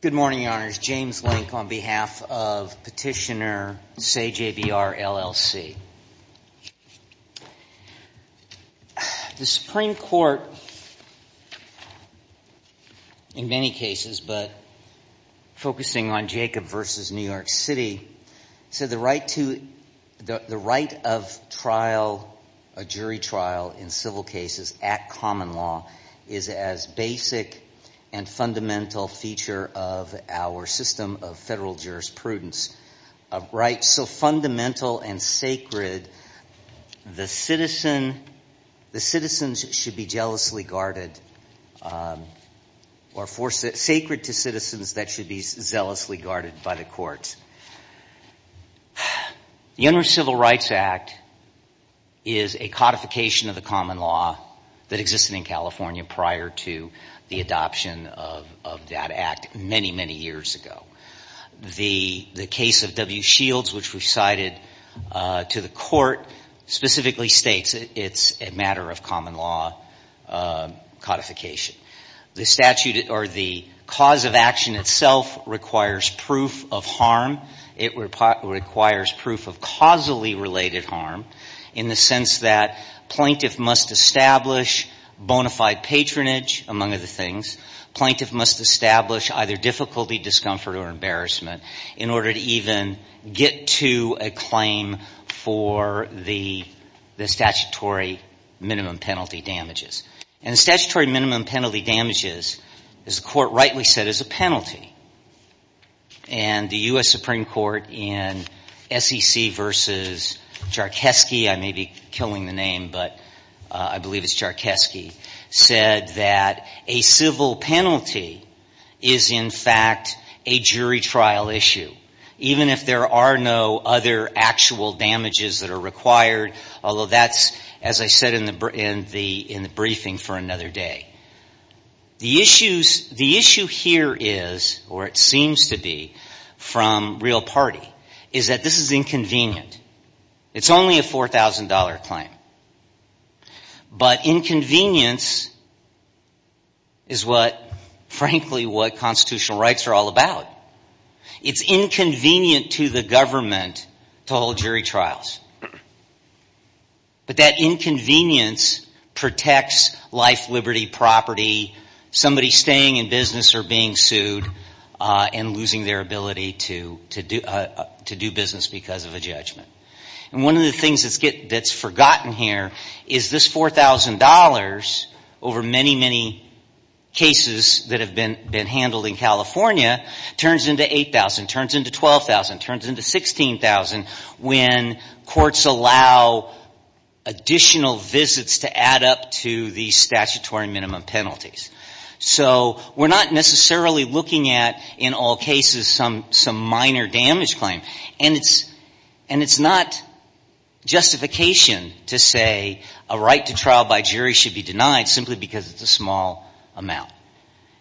Good morning, Your Honors. James Link on behalf of Petitioner Say JBR LLC. The Supreme Court, in many cases but focusing on Jacob v. New York City, said the right to – the right of trial, a jury trial, in civil cases at common law is as basic and fundamental feature of our system of federal jurisprudence. So fundamental and sacred, the citizens should be jealously guarded or sacred to citizens that should be zealously guarded by the courts. The Interim Civil Rights Act is a codification of the common law that existed in California prior to the adoption of that act many, many years ago. The case of W. Shields, which we cited to the court, specifically states it's a matter of common law codification. The statute or the cause of action itself requires proof of harm. It requires proof of causally related harm in the sense that plaintiff must establish bona fide patronage, among other things. Plaintiff must establish either difficulty, discomfort, or embarrassment in order to even get to a claim for the statutory minimum penalty damages. And the statutory minimum penalty damages, as the court rightly said, is a penalty. And the U.S. Supreme Court in S.E.C. v. Jarkewski – I may be killing the name, but I believe it's Jarkewski – said that a civil penalty is in fact a jury trial issue. Even if there are no other actual damages that are required, although that's, as I said, in the briefing for another day. The issue here is, or it seems to be, from real party, is that this is inconvenient. It's only a $4,000 claim. But inconvenience is what, frankly, what constitutional rights are all about. It's inconvenient to the government to hold jury trials. But that inconvenience protects life, liberty, property. Somebody staying in business or being sued and losing their ability to do business because of a judgment. And one of the things that's forgotten here is this $4,000 over many, many cases that have been handled in California turns into $8,000, turns into $12,000, turns into $16,000 when courts allow additional visits to add up to the statutory minimum penalties. So we're not necessarily looking at, in all cases, some minor damage claim. And it's not justification to say a right to trial by jury should be denied simply because it's a small amount.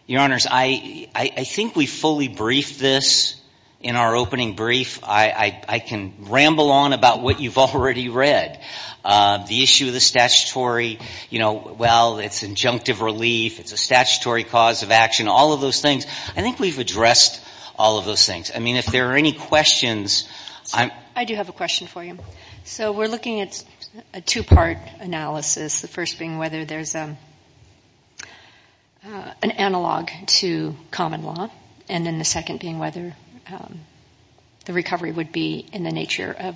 Your Honors, I think we fully briefed this in our opening brief. I can ramble on about what you've already read. The issue of the statutory, you know, well, it's injunctive relief. It's a statutory cause of action. All of those things. I think we've addressed all of those things. I mean, if there are any questions. I do have a question for you. So we're looking at a two-part analysis, the first being whether there's an analog to common law, and then the second being whether the recovery would be in the nature of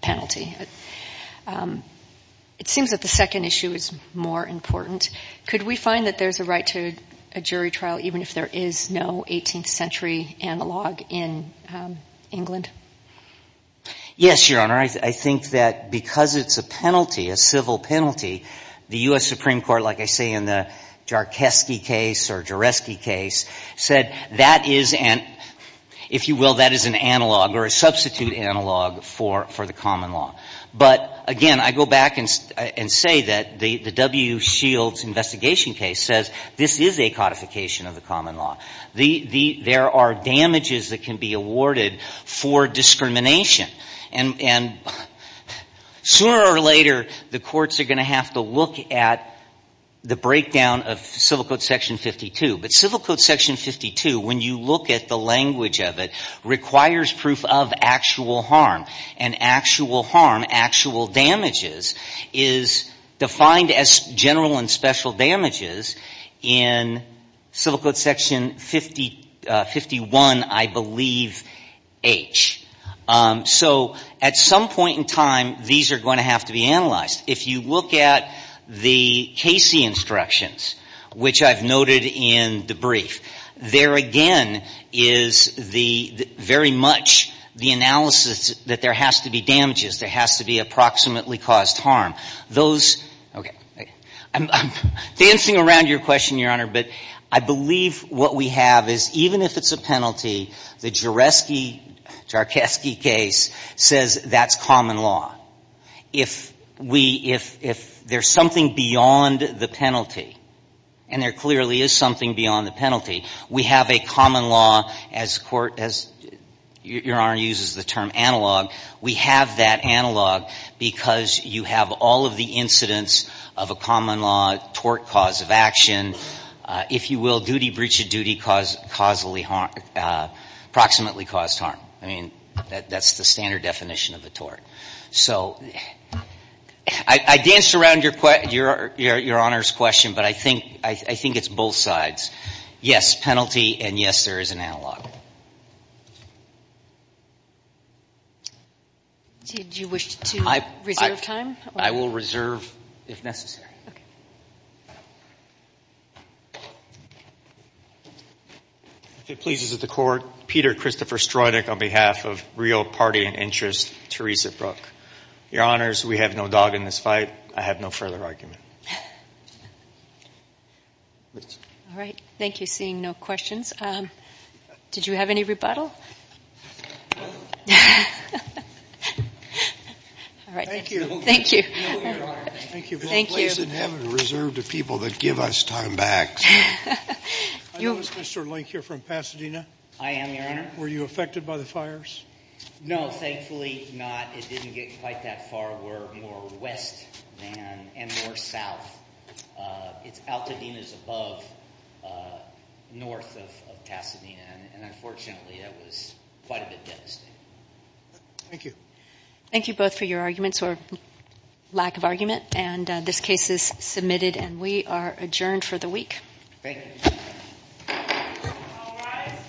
penalty. It seems that the second issue is more important. Could we find that there's a right to a jury trial even if there is no 18th century analog in England? Yes, Your Honor. I think that because it's a penalty, a civil penalty, the U.S. Supreme Court, like I say in the Jarkeski case or Jareski case, said that is an, if you will, that is an analog or a substitute analog for the common law. But, again, I go back and say that the W. Shields investigation case says this is a codification of the common law. There are damages that can be awarded for discrimination. And sooner or later, the courts are going to have to look at the breakdown of Civil Code Section 52. But Civil Code Section 52, when you look at the language of it, requires proof of actual harm. And actual harm, actual damages, is defined as general and special damages in Civil Code Section 51, I believe, H. So at some point in time, these are going to have to be analyzed. If you look at the Casey instructions, which I've noted in the brief, there again is the, very much the analysis that there has to be damages, there has to be approximately caused harm. Those, okay, I'm dancing around your question, Your Honor, but I believe what we have is even if it's a penalty, the Jareski, Jarkeski case says that's common law. If we, if there's something beyond the penalty, and there clearly is something beyond the penalty, we have a common law as court, as Your Honor uses the term analog, we have that analog because you have all of the incidents of a common law tort cause of action. If you will, duty breach of duty caused causally harm, approximately caused harm. I mean, that's the standard definition of a tort. So I danced around Your Honor's question, but I think it's both sides. Yes, penalty, and yes, there is an analog. Did you wish to reserve time? I will reserve if necessary. Okay. If it pleases the Court, Peter Christopher Stroedick on behalf of Rio Party and Interest, Teresa Brooke. Your Honors, we have no dog in this fight. I have no further argument. All right. Thank you, seeing no questions. Did you have any rebuttal? Thank you. Thank you. Thank you for a place in heaven reserved to people that give us time back. I notice, Mr. Link, you're from Pasadena. I am, Your Honor. Were you affected by the fires? No, thankfully not. It didn't get quite that far. We're more west than and more south. It's Altadena's above north of Pasadena, and unfortunately that was quite a bit devastating. Thank you. Thank you both for your arguments or lack of argument. This case is submitted, and we are adjourned for the week. Thank you. All rise.